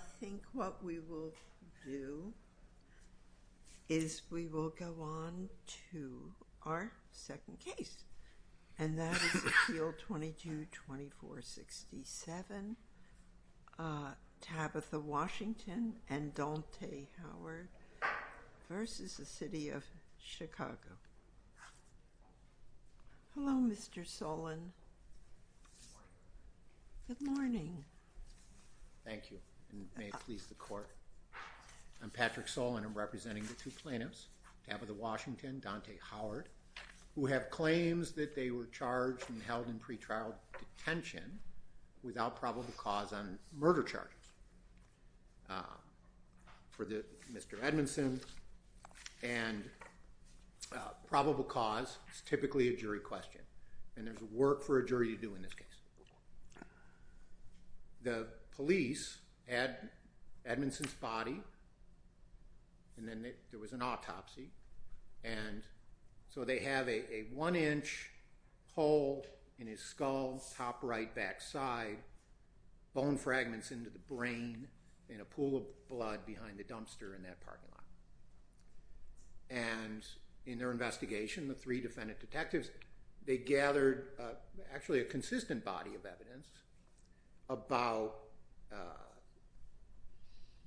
I think what we will do is we will go on to our second case, and that is Appeal 22-2467, Tabatha Washington and Dante Howard v. City of Chicago. Hello, Mr. Solon. Good morning. Thank you, and may it please the Court. I'm Patrick Solon, and I'm representing the two plaintiffs, Tabatha Washington and Dante Howard, who have claims that they were charged and held in pretrial detention without probable cause on murder charges for Mr. Edmondson, and probable cause is typically a jury question, and there's work for a jury to do in this case. The police had Edmondson's body, and then there was an brain in a pool of blood behind the dumpster in that parking lot, and in their investigation, the three defendant detectives, they gathered actually a consistent body of evidence about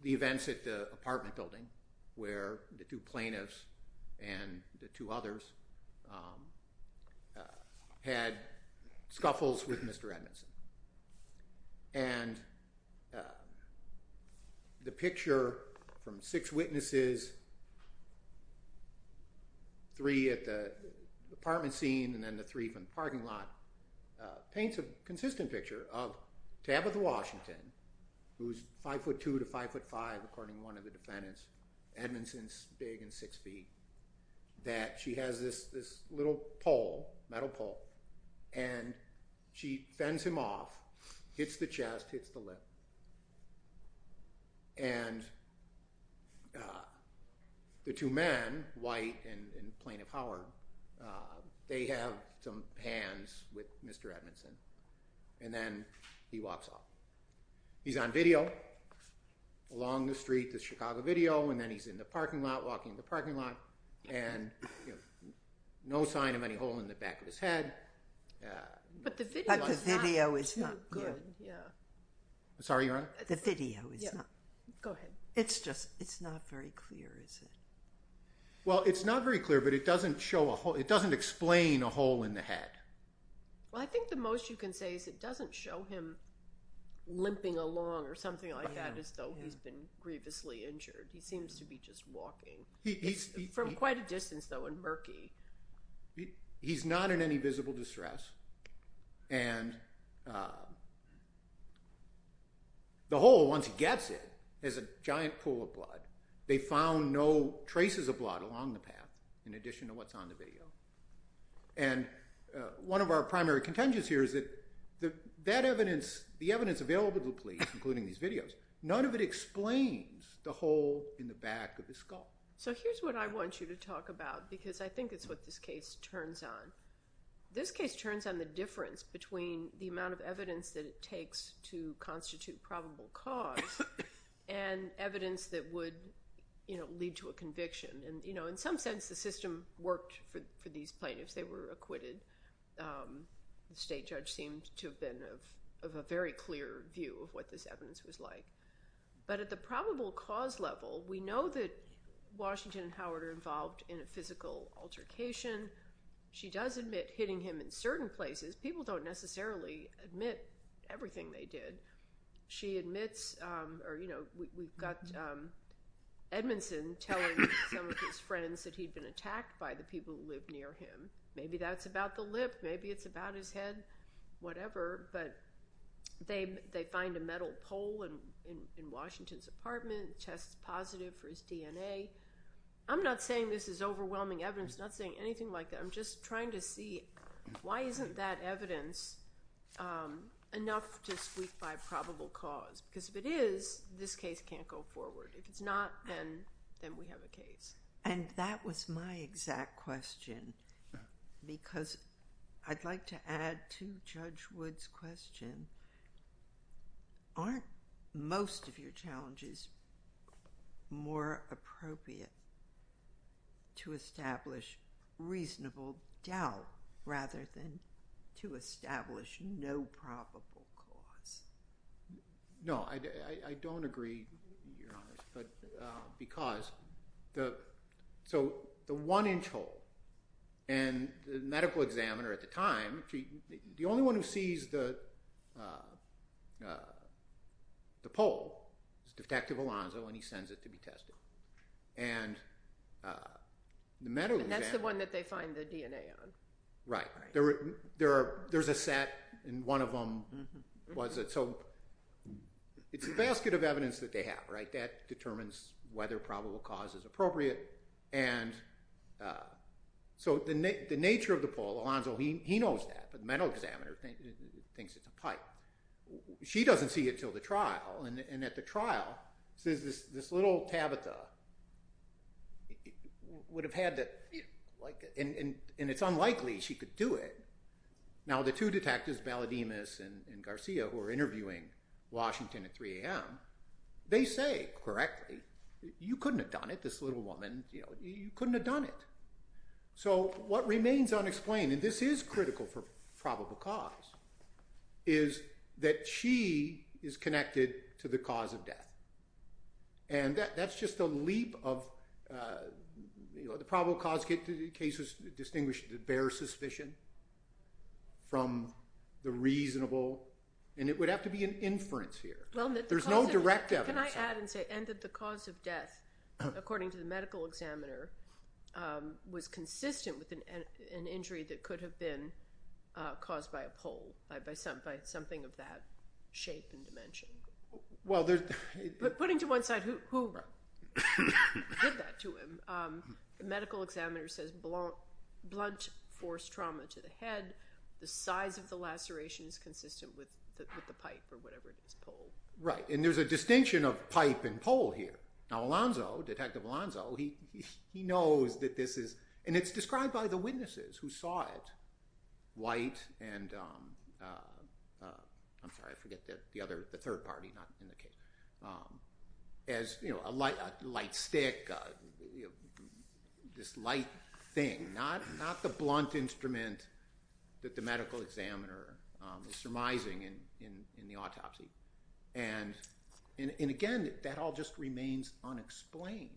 the events at the apartment building where the two plaintiffs and the two others had scuffles with Mr. Edmondson, and the picture from six witnesses, three at the apartment scene, and then the three from the parking lot, paints a consistent picture of Tabatha Washington, who's 5'2"-5'5", according to one of the defendants, Edmondson's big and six feet, that she has this little pole, metal pole, and she fends him off, hits the chest, hits the lip, and the two men, White and Plaintiff Howard, they have some hands with Mr. Edmondson, and then he walks off. He's on video along the street, the Chicago video, and then he's in the parking lot, and no sign of any hole in the back of his head. But the video is not good, yeah. Sorry, Your Honor? The video is not. Go ahead. It's just, it's not very clear, is it? Well, it's not very clear, but it doesn't show a hole, it doesn't explain a hole in the head. Well, I think the most you can say is it doesn't show him limping along or something like that as though he's been grievously injured. He seems to be just walking from quite a distance, though, and murky. He's not in any visible distress, and the hole, once he gets it, is a giant pool of blood. They found no traces of blood along the path, in addition to what's on the video. And one of our primary contingents here is that that evidence, the evidence available to the police, including these videos, none of it explains the hole in the back of his skull. So here's what I want you to talk about, because I think it's what this case turns on. This case turns on the difference between the amount of evidence that it takes to constitute probable cause and evidence that would, you know, lead to a conviction. And, you know, in some sense the system worked for these plaintiffs. They were like, but at the probable cause level, we know that Washington and Howard are involved in a physical altercation. She does admit hitting him in certain places. People don't necessarily admit everything they did. She admits, or, you know, we've got Edmondson telling some of his friends that he'd been attacked by the people who lived near him. Maybe that's about the lip. Maybe it's about his head, whatever. But they find a metal pole in Washington's apartment, test positive for his DNA. I'm not saying this is overwhelming evidence. I'm not saying anything like that. I'm just trying to see why isn't that evidence enough to speak by probable cause? Because if it is, this case can't go forward. If it's not, then we have a case. And that was my exact question, because I'd like to add to Judge Wood's question. Aren't most of your challenges more appropriate to establish reasonable doubt rather than to establish no probable cause? No, I don't agree, Your Honor. So the one-inch hole, and the medical examiner at the time, the only one who sees the pole is Detective Alonzo, and he sends it to be tested. And that's the one that they find the DNA on. Right. There's a set, and one of them was it. So it's a basket of evidence that they have, right? That determines whether probable cause is appropriate. And so the nature of the pole, Alonzo, he knows that, but the medical examiner thinks it's a pipe. She doesn't see it until the unlikely she could do it. Now the two detectives, Balademus and Garcia, who are interviewing Washington at 3 a.m., they say correctly, you couldn't have done it, this little woman. You know, you couldn't have done it. So what remains unexplained, and this is critical for probable cause, is that she is connected to the cause of death. And that's just a leap of, you know, probable cause cases distinguish the bare suspicion from the reasonable, and it would have to be an inference here. There's no direct evidence. Can I add and say, and that the cause of death, according to the medical examiner, was consistent with an injury that could have been caused by a pole, by something of that shape and dimension. Putting to one side, who did that to him, the medical examiner says blunt force trauma to the head, the size of the laceration is consistent with the pipe or whatever it is, pole. Right, and there's a distinction of pipe and pole here. Now Alonzo, Detective Alonzo, he knows that this is, and it's described by the witnesses who this light thing, not the blunt instrument that the medical examiner is surmising in the autopsy. And again, that all just remains unexplained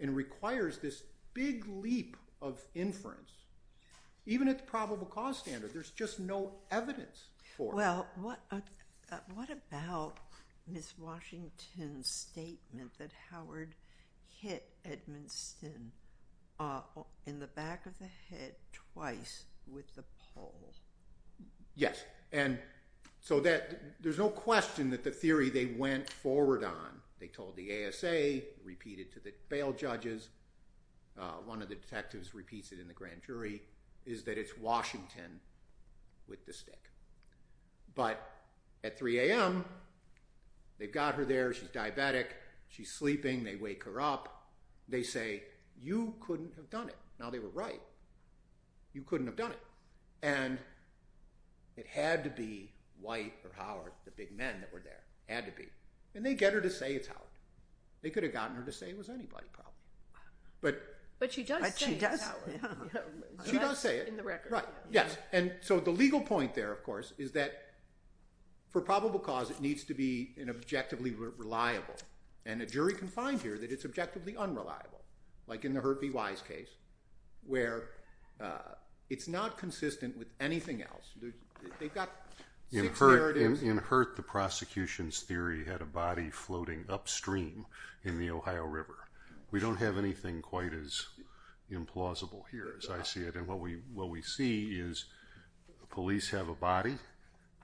and requires this big leap of inference. Even at the probable cause standard, there's just no evidence for it. Well, what about Miss Washington's theory that Howard hit Edmund Stinn in the back of the head twice with the pole? Yes, and so that there's no question that the theory they went forward on, they told the ASA, repeated to the bail judges, one of the detectives repeats it in the grand jury, is that it's Washington with the thing, they wake her up, they say, you couldn't have done it. Now they were right. You couldn't have done it. And it had to be White or Howard, the big men that were there, had to be. And they get her to say it's Howard. They could have gotten her to say it was anybody probably. But she does say it's Howard. In the record. Right, yes, and so the legal point there, of course, is that for probable cause it has been objectively reliable. And a jury can find here that it's objectively unreliable. Like in the Hurt v. Wise case, where it's not consistent with anything else. In Hurt, the prosecution's theory had a body floating upstream in the Ohio River. We don't have anything quite as implausible here as I see it. And what we see is police have a body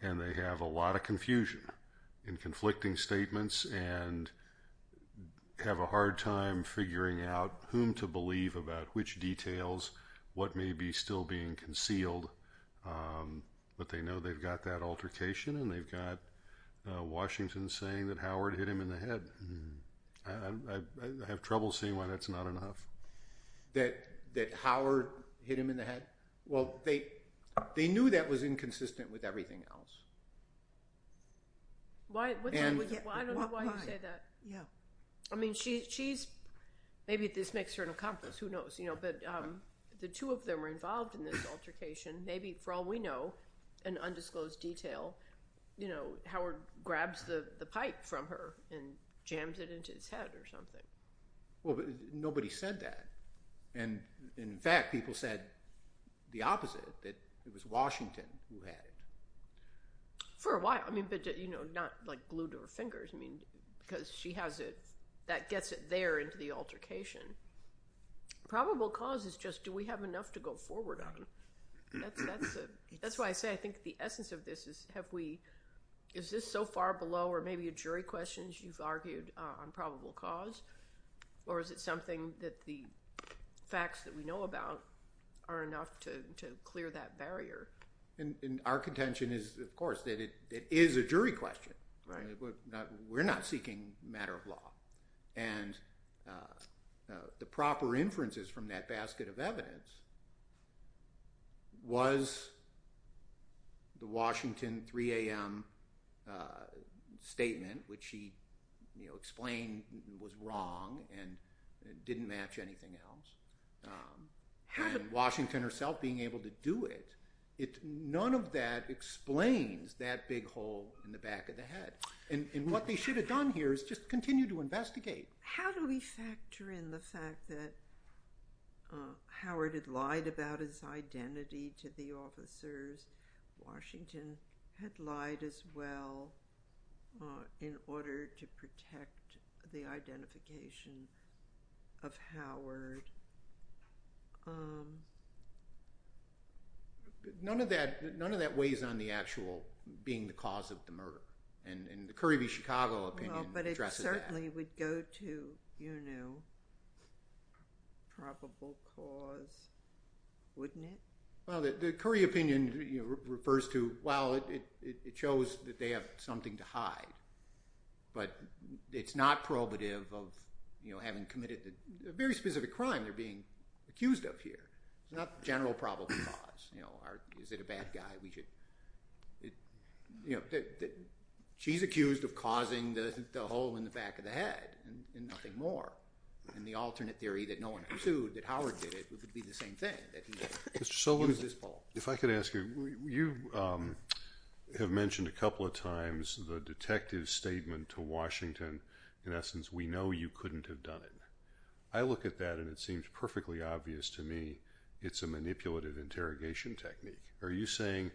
and they have a lot of conflicting statements and have a hard time figuring out whom to believe about which details, what may be still being concealed. But they know they've got that altercation and they've got Washington saying that Howard hit him in the head. I have trouble seeing why that's not enough. That Howard hit him in the head? Well, they knew that was inconsistent with everything else. I don't know why you say that. Maybe this makes her an accomplice, who knows. But the two of them were involved in this altercation. Maybe, for all we know, in undisclosed detail, Howard grabs the pipe from her and jams it into his head or something. Nobody said that. In fact, people said the opposite, that it was Washington who had it. For a while, but not glued to her fingers. Because she has it, that gets it there into the altercation. Probable cause is just, do we have enough to go forward on? That's why I say I think the essence of this is, is this so far below or maybe a jury question, as you've argued, on probable cause? Or is it something that the facts that we know about are enough to clear that barrier? Our contention is, of course, that it is a jury question. We're not seeking matter of law. The proper inferences from that basket of evidence was the Washington 3 a.m. statement, which she explained was wrong and didn't match anything else. Washington herself being able to do it, none of that explains that big hole in the back of the head. What they should have done here is just continue to investigate. How do we factor in the fact that Howard had lied about his identity to the officers? Washington had lied as well in order to protect the identification of Howard. None of that weighs on the actual being the cause of the murder. And the Curry v. Chicago opinion addresses that. Well, but it certainly would go to probable cause, wouldn't it? Well, the Curry opinion refers to, well, it shows that they have something to hide. But it's not probative of having committed a very specific crime they're being accused of here. It's not the general probable cause. Is it a bad guy? She's accused of causing the hole in the back of the head and nothing more. And the alternate theory that no one pursued, that Howard did it, would be the same thing. If I could ask you, you have mentioned a couple of times the detective's statement to Washington, in essence, we know you couldn't have done it. I look at that and it seems perfectly obvious to me it's a manipulative interrogation technique. Are you saying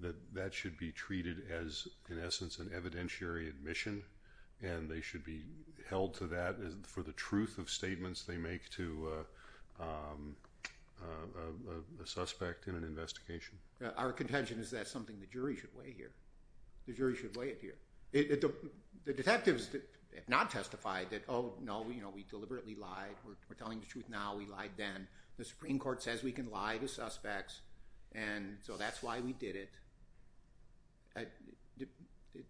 that that should be treated as, in essence, an evidentiary admission and they should be held to that for the truth of statements they make to a suspect in an investigation? Our contention is that's something the jury should weigh here. The jury should weigh it here. The detectives have not testified that, oh, no, we deliberately lied. We're telling the truth now. We lied then. The Supreme Court says we can lie to suspects. And so that's why we did it.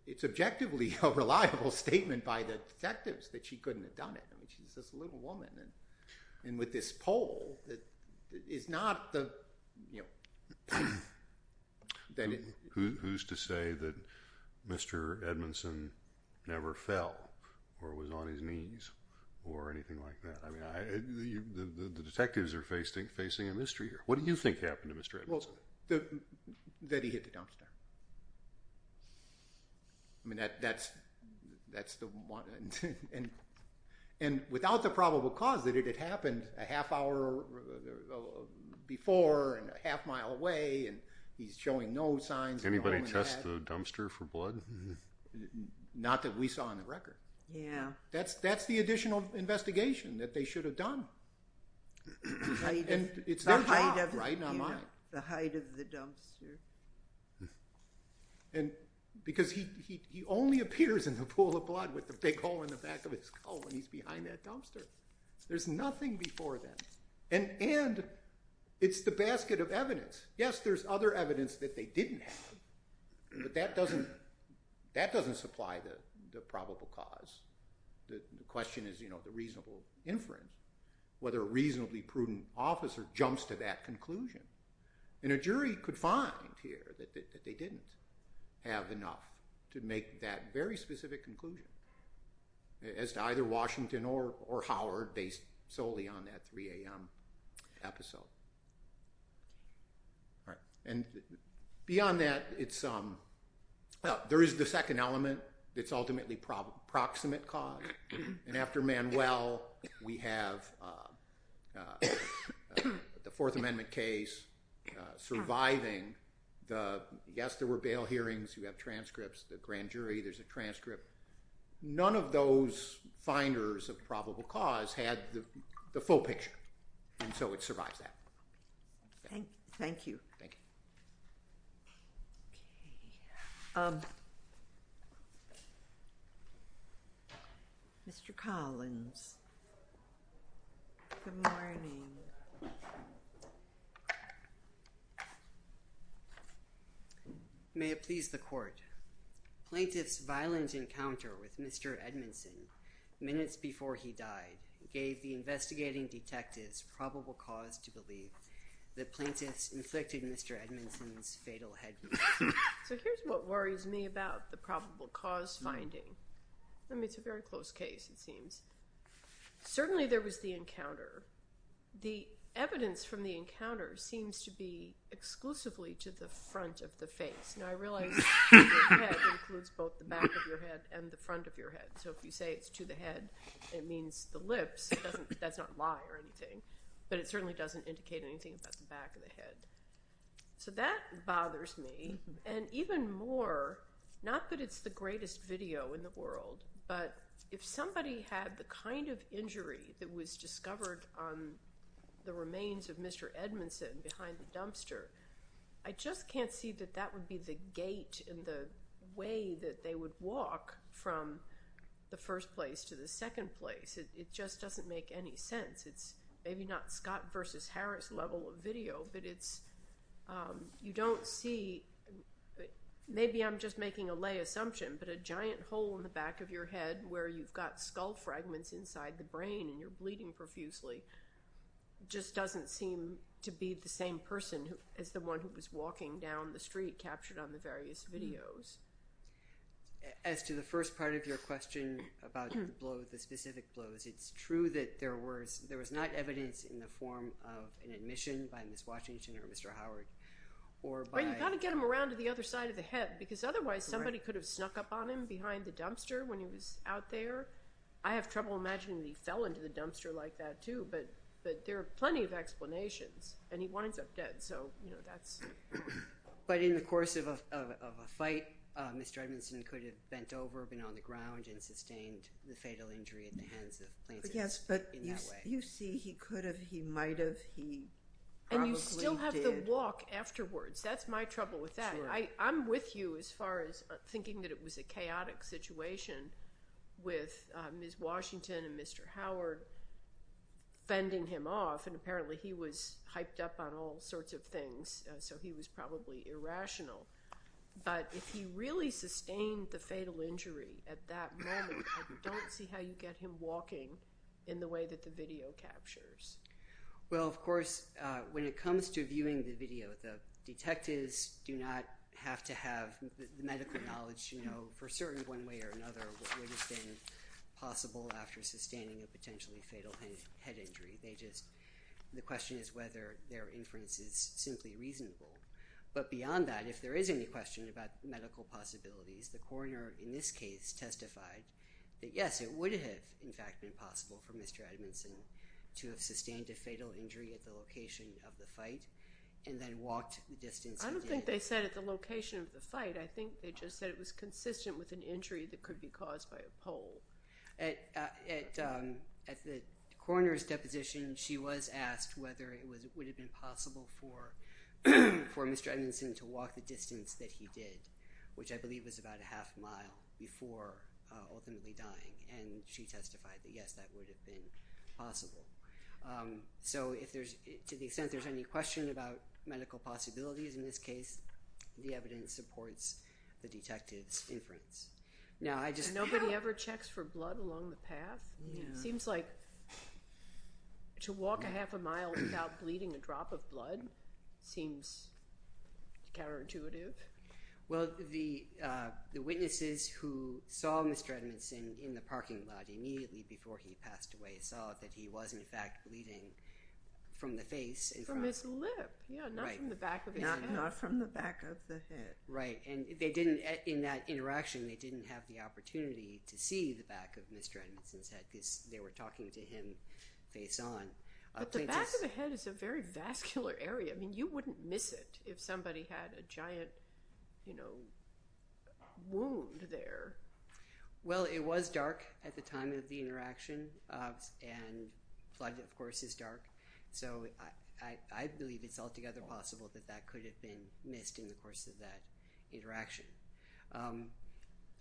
It's objectively a reliable statement by the detectives that she couldn't have done it. I mean, she's just a little woman. And with this poll, it's not the, you know— Who's to say that Mr. Edmondson never fell or was on his knees or anything like that? I mean, the detectives are facing a mystery here. What do you think happened to Mr. Edmondson? Well, that he hit the dumpster. I mean, that's the one. And without the probable cause that it had happened a half-hour before and a half-mile away, and he's showing no signs of it or anything like that. Did anybody test the dumpster for blood? Not that we saw on the record. Yeah. That's the additional investigation that they should have done. And it's their job, right, not mine. The height of the dumpster. And because he only appears in the pool of blood with the big hole in the back of his skull when he's behind that dumpster. There's nothing before that. And it's the basket of evidence. Yes, there's other evidence that they didn't have. But that doesn't supply the probable cause. The question is, you know, the reasonable inference, whether a reasonably prudent officer jumps to that conclusion. And a jury could find here that they didn't have enough to make that very specific conclusion as to either Washington or Howard based solely on that 3 a.m. episode. All right. And beyond that, there is the second element. It's ultimately proximate cause. And after Manuel, we have the Fourth Amendment case surviving. Yes, there were bail hearings. You have transcripts. The grand jury, there's a transcript. None of those finders of probable cause had the full picture. And so it survives that. Thank you. Thank you. Mr. Collins. Good morning. May it please the court. Plaintiff's violent encounter with Mr. Edmondson minutes before he died gave the investigating detectives probable cause to believe that plaintiffs inflicted Mr. Edmondson's fatal head injury. So here's what worries me about the probable cause finding. I mean, it's a very close case, it seems. Certainly, there was the encounter. The evidence from the encounter seems to be exclusively to the front of the face. Now, I realize the head includes both the back of your head and the front of your head. So if you say it's to the head, it means the lips. That's not a lie or anything. But it certainly doesn't indicate anything about the back of the head. So that bothers me. And even more, not that it's the greatest video in the world, but if somebody had the kind of injury that was discovered on the remains of Mr. Edmondson behind the dumpster, I just can't see that that would be the gate in the way that they would walk from the first place to the second place. It just doesn't make any sense. It's maybe not Scott versus Harris level of video, but you don't see. Maybe I'm just making a lay assumption, but a giant hole in the back of your head where you've got skull fragments inside the brain and you're bleeding profusely just doesn't seem to be the same person as the one who was walking down the street captured on the various videos. As to the first part of your question about the blow, the specific blows, it's true that there was not evidence in the form of an admission by Ms. Washington or Mr. Howard. But you've got to get them around to the other side of the head because otherwise somebody could have snuck up on him behind the dumpster when he was out there. I have trouble imagining that he fell into the dumpster like that too, but there are plenty of explanations, and he winds up dead. But in the course of a fight, Mr. Edmondson could have bent over, been on the ground, and sustained the fatal injury at the hands of Plaintiff. Yes, but you see he could have, he might have, he probably did. And you still have the walk afterwards. That's my trouble with that. I'm with you as far as thinking that it was a chaotic situation with Ms. Washington and Mr. Howard fending him off, and apparently he was hyped up on all sorts of things, so he was probably irrational. But if he really sustained the fatal injury at that moment, I don't see how you get him walking in the way that the video captures. Well, of course, when it comes to viewing the video, the detectives do not have to have the medical knowledge to know for certain one way or another what would have been possible after sustaining a potentially fatal head injury. The question is whether their inference is simply reasonable. But beyond that, if there is any question about medical possibilities, the coroner in this case testified that, yes, it would have, in fact, been possible for Mr. Edmondson to have sustained a fatal injury at the location of the fight and then walked the distance he did. I don't think they said at the location of the fight. I think they just said it was consistent with an injury that could be caused by a pole. At the coroner's deposition, she was asked whether it would have been possible for Mr. Edmondson to walk the distance that he did, which I believe was about a half mile before ultimately dying. And she testified that, yes, that would have been possible. So to the extent there's any question about medical possibilities in this case, the evidence supports the detective's inference. Nobody ever checks for blood along the path? It seems like to walk a half a mile without bleeding a drop of blood seems counterintuitive. Well, the witnesses who saw Mr. Edmondson in the parking lot immediately before he passed away saw that he was, in fact, bleeding from the face. From his lip, not from the back of his head. Not from the back of the head. Right, and in that interaction, they didn't have the opportunity to see the back of Mr. Edmondson's head because they were talking to him face-on. But the back of the head is a very vascular area. I mean, you wouldn't miss it if somebody had a giant wound there. Well, it was dark at the time of the interaction, and blood, of course, is dark. So I believe it's altogether possible that that could have been missed in the course of that interaction.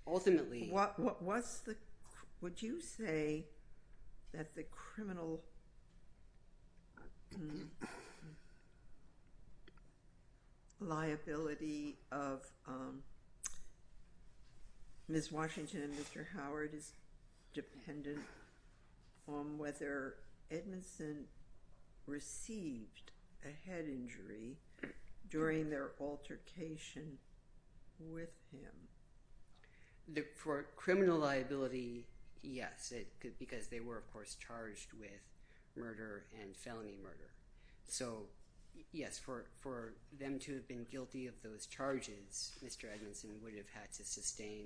Ultimately. Would you say that the criminal liability of Ms. Washington and Mr. Howard is dependent on whether Edmondson received a head injury during their altercation with him? For criminal liability, yes. Because they were, of course, charged with murder and felony murder. So, yes, for them to have been guilty of those charges, Mr. Edmondson would have had to sustain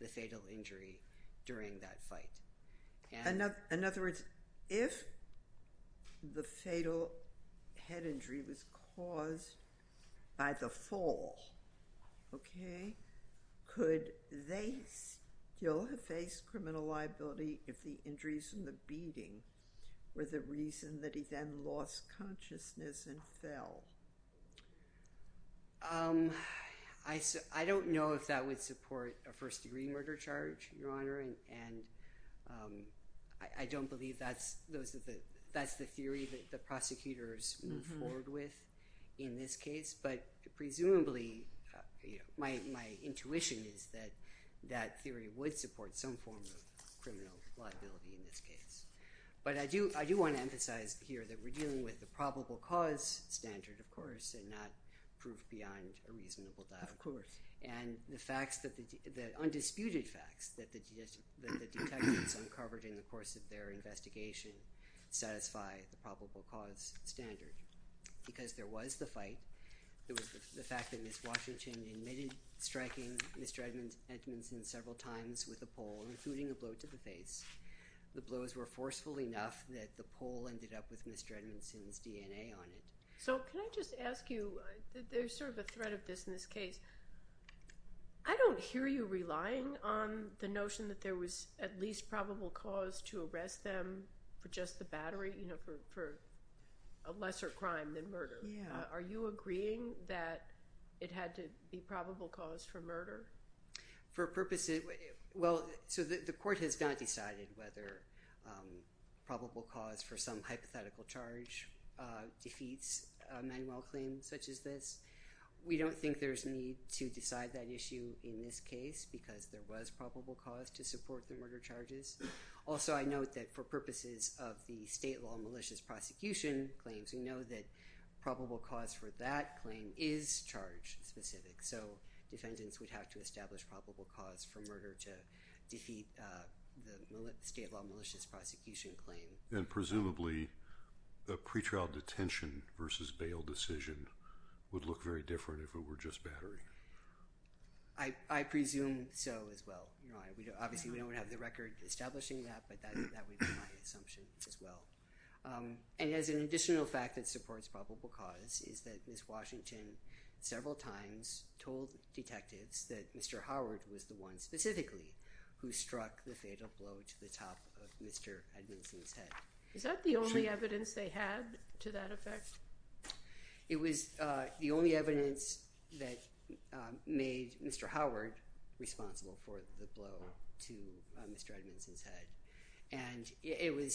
the fatal injury during that fight. In other words, if the fatal head injury was caused by the fall, okay, could they still have faced criminal liability if the injuries from the beating were the reason that he then lost consciousness and fell? I don't know if that would support a first-degree murder charge, Your Honor, and I don't believe that's the theory that the prosecutors move forward with in this case. But presumably, my intuition is that that theory would support some form of criminal liability in this case. But I do want to emphasize here that we're dealing with the probable cause standard, of course, and not proof beyond a reasonable doubt. Of course. And the undisputed facts that the detectives uncovered in the course of their investigation satisfy the probable cause standard. Because there was the fight, there was the fact that Ms. Washington admitted striking Mr. Edmondson several times with a pole, including a blow to the face. The blows were forceful enough that the pole ended up with Mr. Edmondson's DNA on it. So can I just ask you, there's sort of a thread of this in this case. I don't hear you relying on the notion that there was at least probable cause to arrest them for just the battery, you know, for a lesser crime than murder. Are you agreeing that it had to be probable cause for murder? For purposes, well, so the court has not decided whether probable cause for some hypothetical charge defeats a manual claim such as this. We don't think there's a need to decide that issue in this case because there was probable cause to support the murder charges. Also, I note that for purposes of the state law malicious prosecution claims, we know that probable cause for that claim is charge specific. So defendants would have to establish probable cause for murder to defeat the state law malicious prosecution claim. Presumably, a pretrial detention versus bail decision would look very different if it were just battery. I presume so as well. Obviously, we don't have the record establishing that, but that would be my assumption as well. And as an additional fact that supports probable cause is that Ms. Washington several times told detectives that Mr. Howard was the one specifically who struck the fatal blow to the top of Mr. Edmondson's head. Is that the only evidence they had to that effect? It was the only evidence that made Mr. Howard responsible for the blow to Mr. Edmondson's head. And I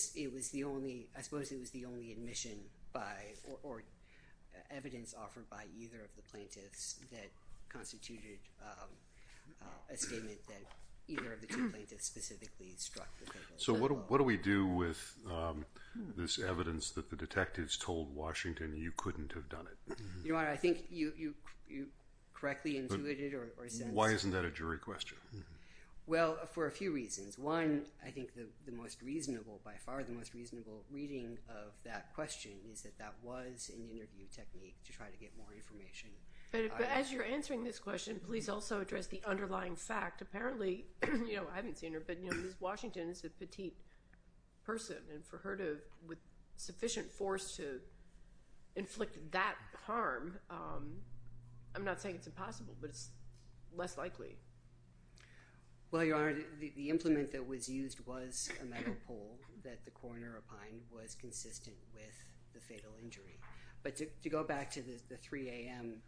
suppose it was the only admission or evidence offered by either of the plaintiffs that constituted a statement that either of the two plaintiffs specifically struck the fatal blow. So what do we do with this evidence that the detectives told Washington you couldn't have done it? Your Honor, I think you correctly intuited or sensed— Why isn't that a jury question? Well, for a few reasons. One, I think the most reasonable—by far the most reasonable reading of that question is that that was an interview technique to try to get more information. But as you're answering this question, please also address the underlying fact. Apparently—I haven't seen her, but Ms. Washington is a petite person, and for her to—with sufficient force to inflict that harm, I'm not saying it's impossible, but it's less likely. Well, Your Honor, the implement that was used was a metal pole that the coroner opined was consistent with the fatal injury. But to go back to the 3 a.m.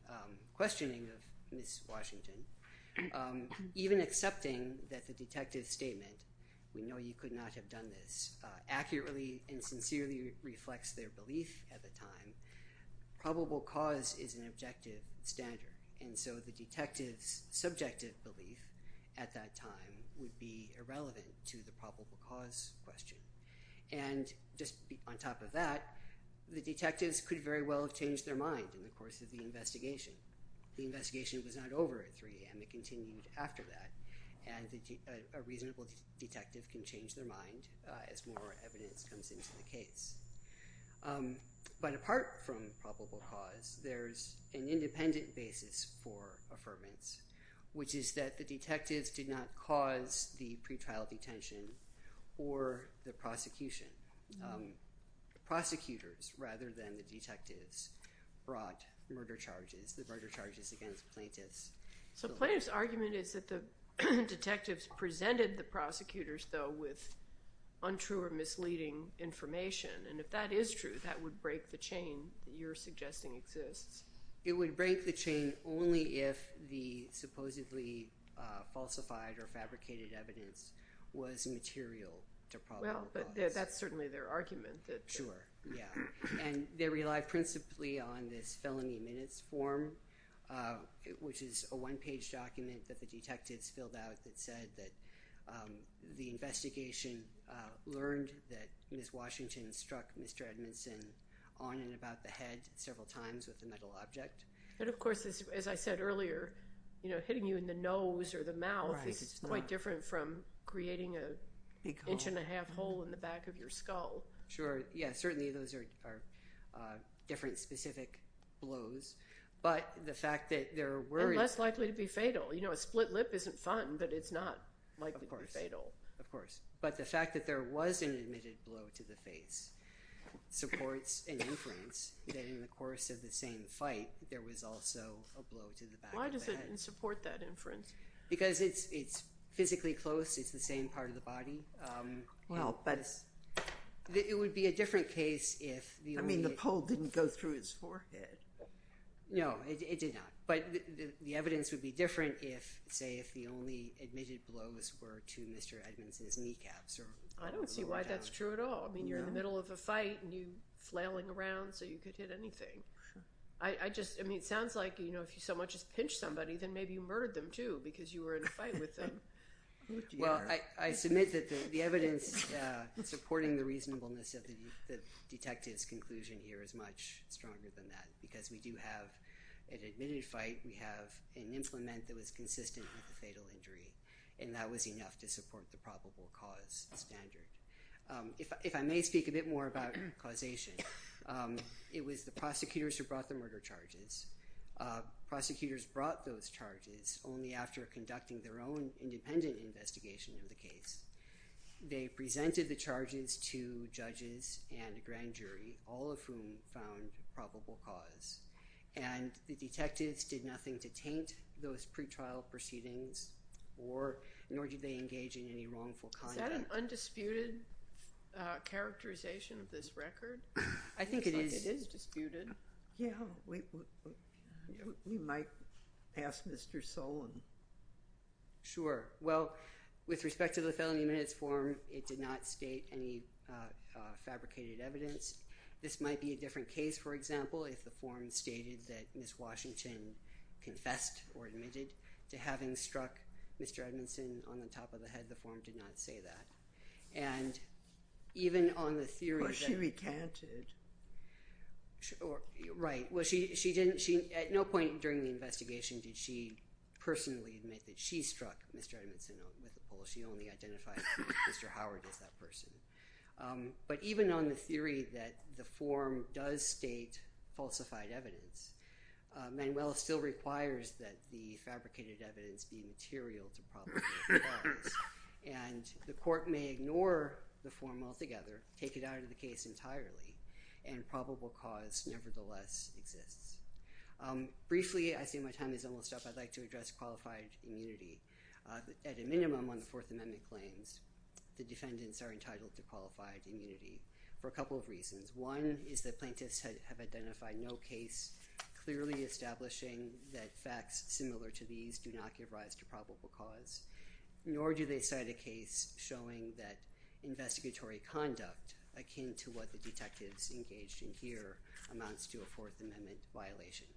questioning of Ms. Washington, even accepting that the detective's statement, we know you could not have done this, accurately and sincerely reflects their belief at the time, probable cause is an objective standard. And so the detective's subjective belief at that time would be irrelevant to the probable cause question. And just on top of that, the detectives could very well have changed their mind in the course of the investigation. The investigation was not over at 3 a.m. It continued after that, and a reasonable detective can change their mind as more evidence comes into the case. But apart from probable cause, there's an independent basis for affirmance, which is that the detectives did not cause the pretrial detention or the prosecution. The prosecutors, rather than the detectives, brought murder charges, the murder charges against plaintiffs. So plaintiff's argument is that the detectives presented the prosecutors, though, with untrue or misleading information. And if that is true, that would break the chain that you're suggesting exists. It would break the chain only if the supposedly falsified or fabricated evidence was material to probable cause. Well, but that's certainly their argument. Sure, yeah. And they relied principally on this felony minutes form, which is a one-page document that the detectives filled out that said that the investigation learned that Ms. Washington struck Mr. Edmondson on and about the head several times with a metal object. And, of course, as I said earlier, hitting you in the nose or the mouth is quite different from creating an inch-and-a-half hole in the back of your skull. Sure, yeah. Certainly those are different specific blows. And less likely to be fatal. You know, a split lip isn't fun, but it's not likely to be fatal. Of course, of course. But the fact that there was an admitted blow to the face supports an inference that in the course of the same fight there was also a blow to the back of the head. Why does it support that inference? Because it's physically close. It's the same part of the body. Well, but it's— It would be a different case if the only— I mean, the pull didn't go through his forehead. No, it did not. But the evidence would be different if, say, if the only admitted blows were to Mr. Edmondson's kneecaps. I don't see why that's true at all. I mean, you're in the middle of a fight and you're flailing around so you could hit anything. I just—I mean, it sounds like, you know, if you so much as pinch somebody then maybe you murdered them, too, because you were in a fight with them. Well, I submit that the evidence supporting the reasonableness of the detective's conclusion here is much stronger than that because we do have an admitted fight. We have an implement that was consistent with the fatal injury, and that was enough to support the probable cause standard. If I may speak a bit more about causation, it was the prosecutors who brought the murder charges. Prosecutors brought those charges only after conducting their own independent investigation of the case. They presented the charges to judges and a grand jury, all of whom found probable cause. And the detectives did nothing to taint those pretrial proceedings, nor did they engage in any wrongful conduct. Is that an undisputed characterization of this record? I think it is. It is disputed. Yeah, we might pass Mr. Solon. Sure. Well, with respect to the felony minutes form, it did not state any fabricated evidence. This might be a different case, for example, if the form stated that Ms. Washington confessed or admitted to having struck Mr. Edmondson on the top of the head. The form did not say that. And even on the theory that... Well, she recanted. Right. Well, she didn't. At no point during the investigation did she personally admit that she struck Mr. Edmondson with a pole. She only identified Mr. Howard as that person. But even on the theory that the form does state falsified evidence, Manuel still requires that the fabricated evidence be material to probable cause. And the court may ignore the form altogether, take it out of the case entirely, and probable cause nevertheless exists. Briefly, I see my time is almost up. I'd like to address qualified immunity. At a minimum on the Fourth Amendment claims, the defendants are entitled to qualified immunity for a couple of reasons. One is that plaintiffs have identified no case clearly establishing that facts similar to these do not give rise to probable cause, nor do they cite a case showing that investigatory conduct akin to what the detectives engaged in here amounts to a Fourth Amendment violation.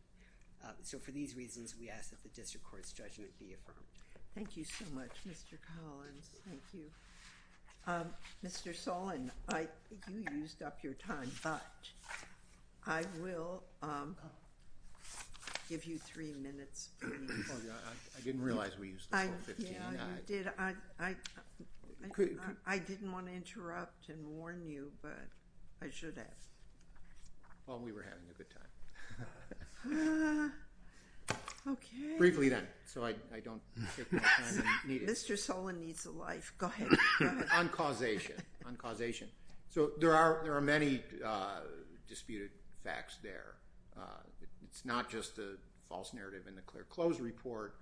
So for these reasons, we ask that the district court's judgment be affirmed. Thank you so much, Mr. Collins. Thank you. Mr. Solon, you used up your time, but I will give you three minutes. I didn't realize we used up all 15. I didn't want to interrupt and warn you, but I should have. Well, we were having a good time. Okay. Briefly then, so I don't take more time than needed. Mr. Solon needs a life. Go ahead. On causation. On causation. So there are many disputed facts there. It's not just the false narrative in the clear clothes report.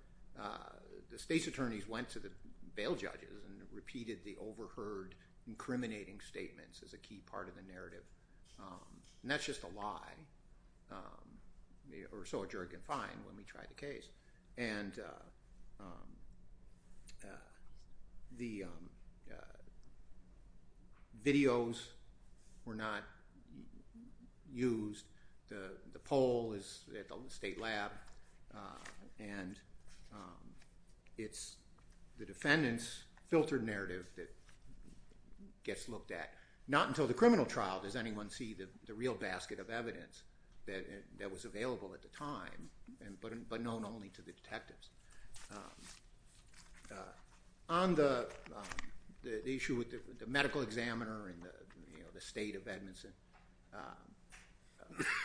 The state's attorneys went to the bail judges and repeated the overheard incriminating statements as a key part of the narrative. And that's just a lie, or so a jury can find when we try the case. And the videos were not used. The poll is at the state lab. And it's the defendant's filtered narrative that gets looked at. Not until the criminal trial does anyone see the real basket of evidence that was available at the time, but known only to the detectives. On the issue with the medical examiner and the state of Edmondson,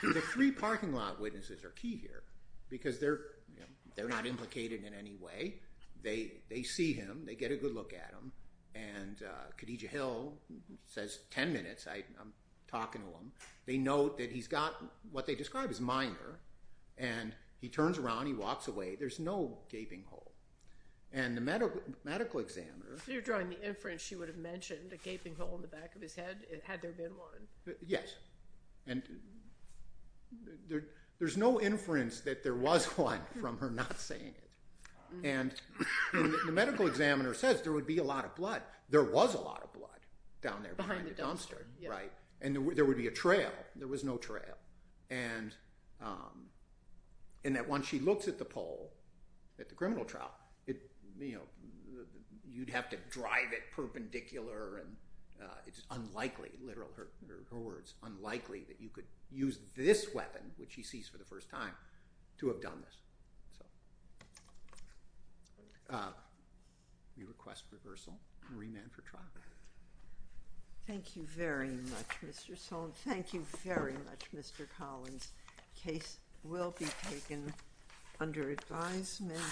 the three parking lot witnesses are key here because they're not implicated in any way. They see him. They get a good look at him. And Khadija Hill says, 10 minutes, I'm talking to him. They note that he's got what they describe as minor. And he turns around, he walks away. There's no gaping hole. And the medical examiner. You're drawing the inference she would have mentioned a gaping hole in the back of his head had there been one. Yes. And there's no inference that there was one from her not saying it. And the medical examiner says there would be a lot of blood. There was a lot of blood down there behind the dumpster. And there would be a trail. There was no trail. And that once she looks at the poll at the criminal trial, you'd have to drive it perpendicular. It's unlikely, literal, her words, unlikely that you could use this weapon, which she sees for the first time, to have done this. We request reversal and remand for trial. Thank you very much, Mr. Sohn. Thank you very much, Mr. Collins. The case will be taken under advisement.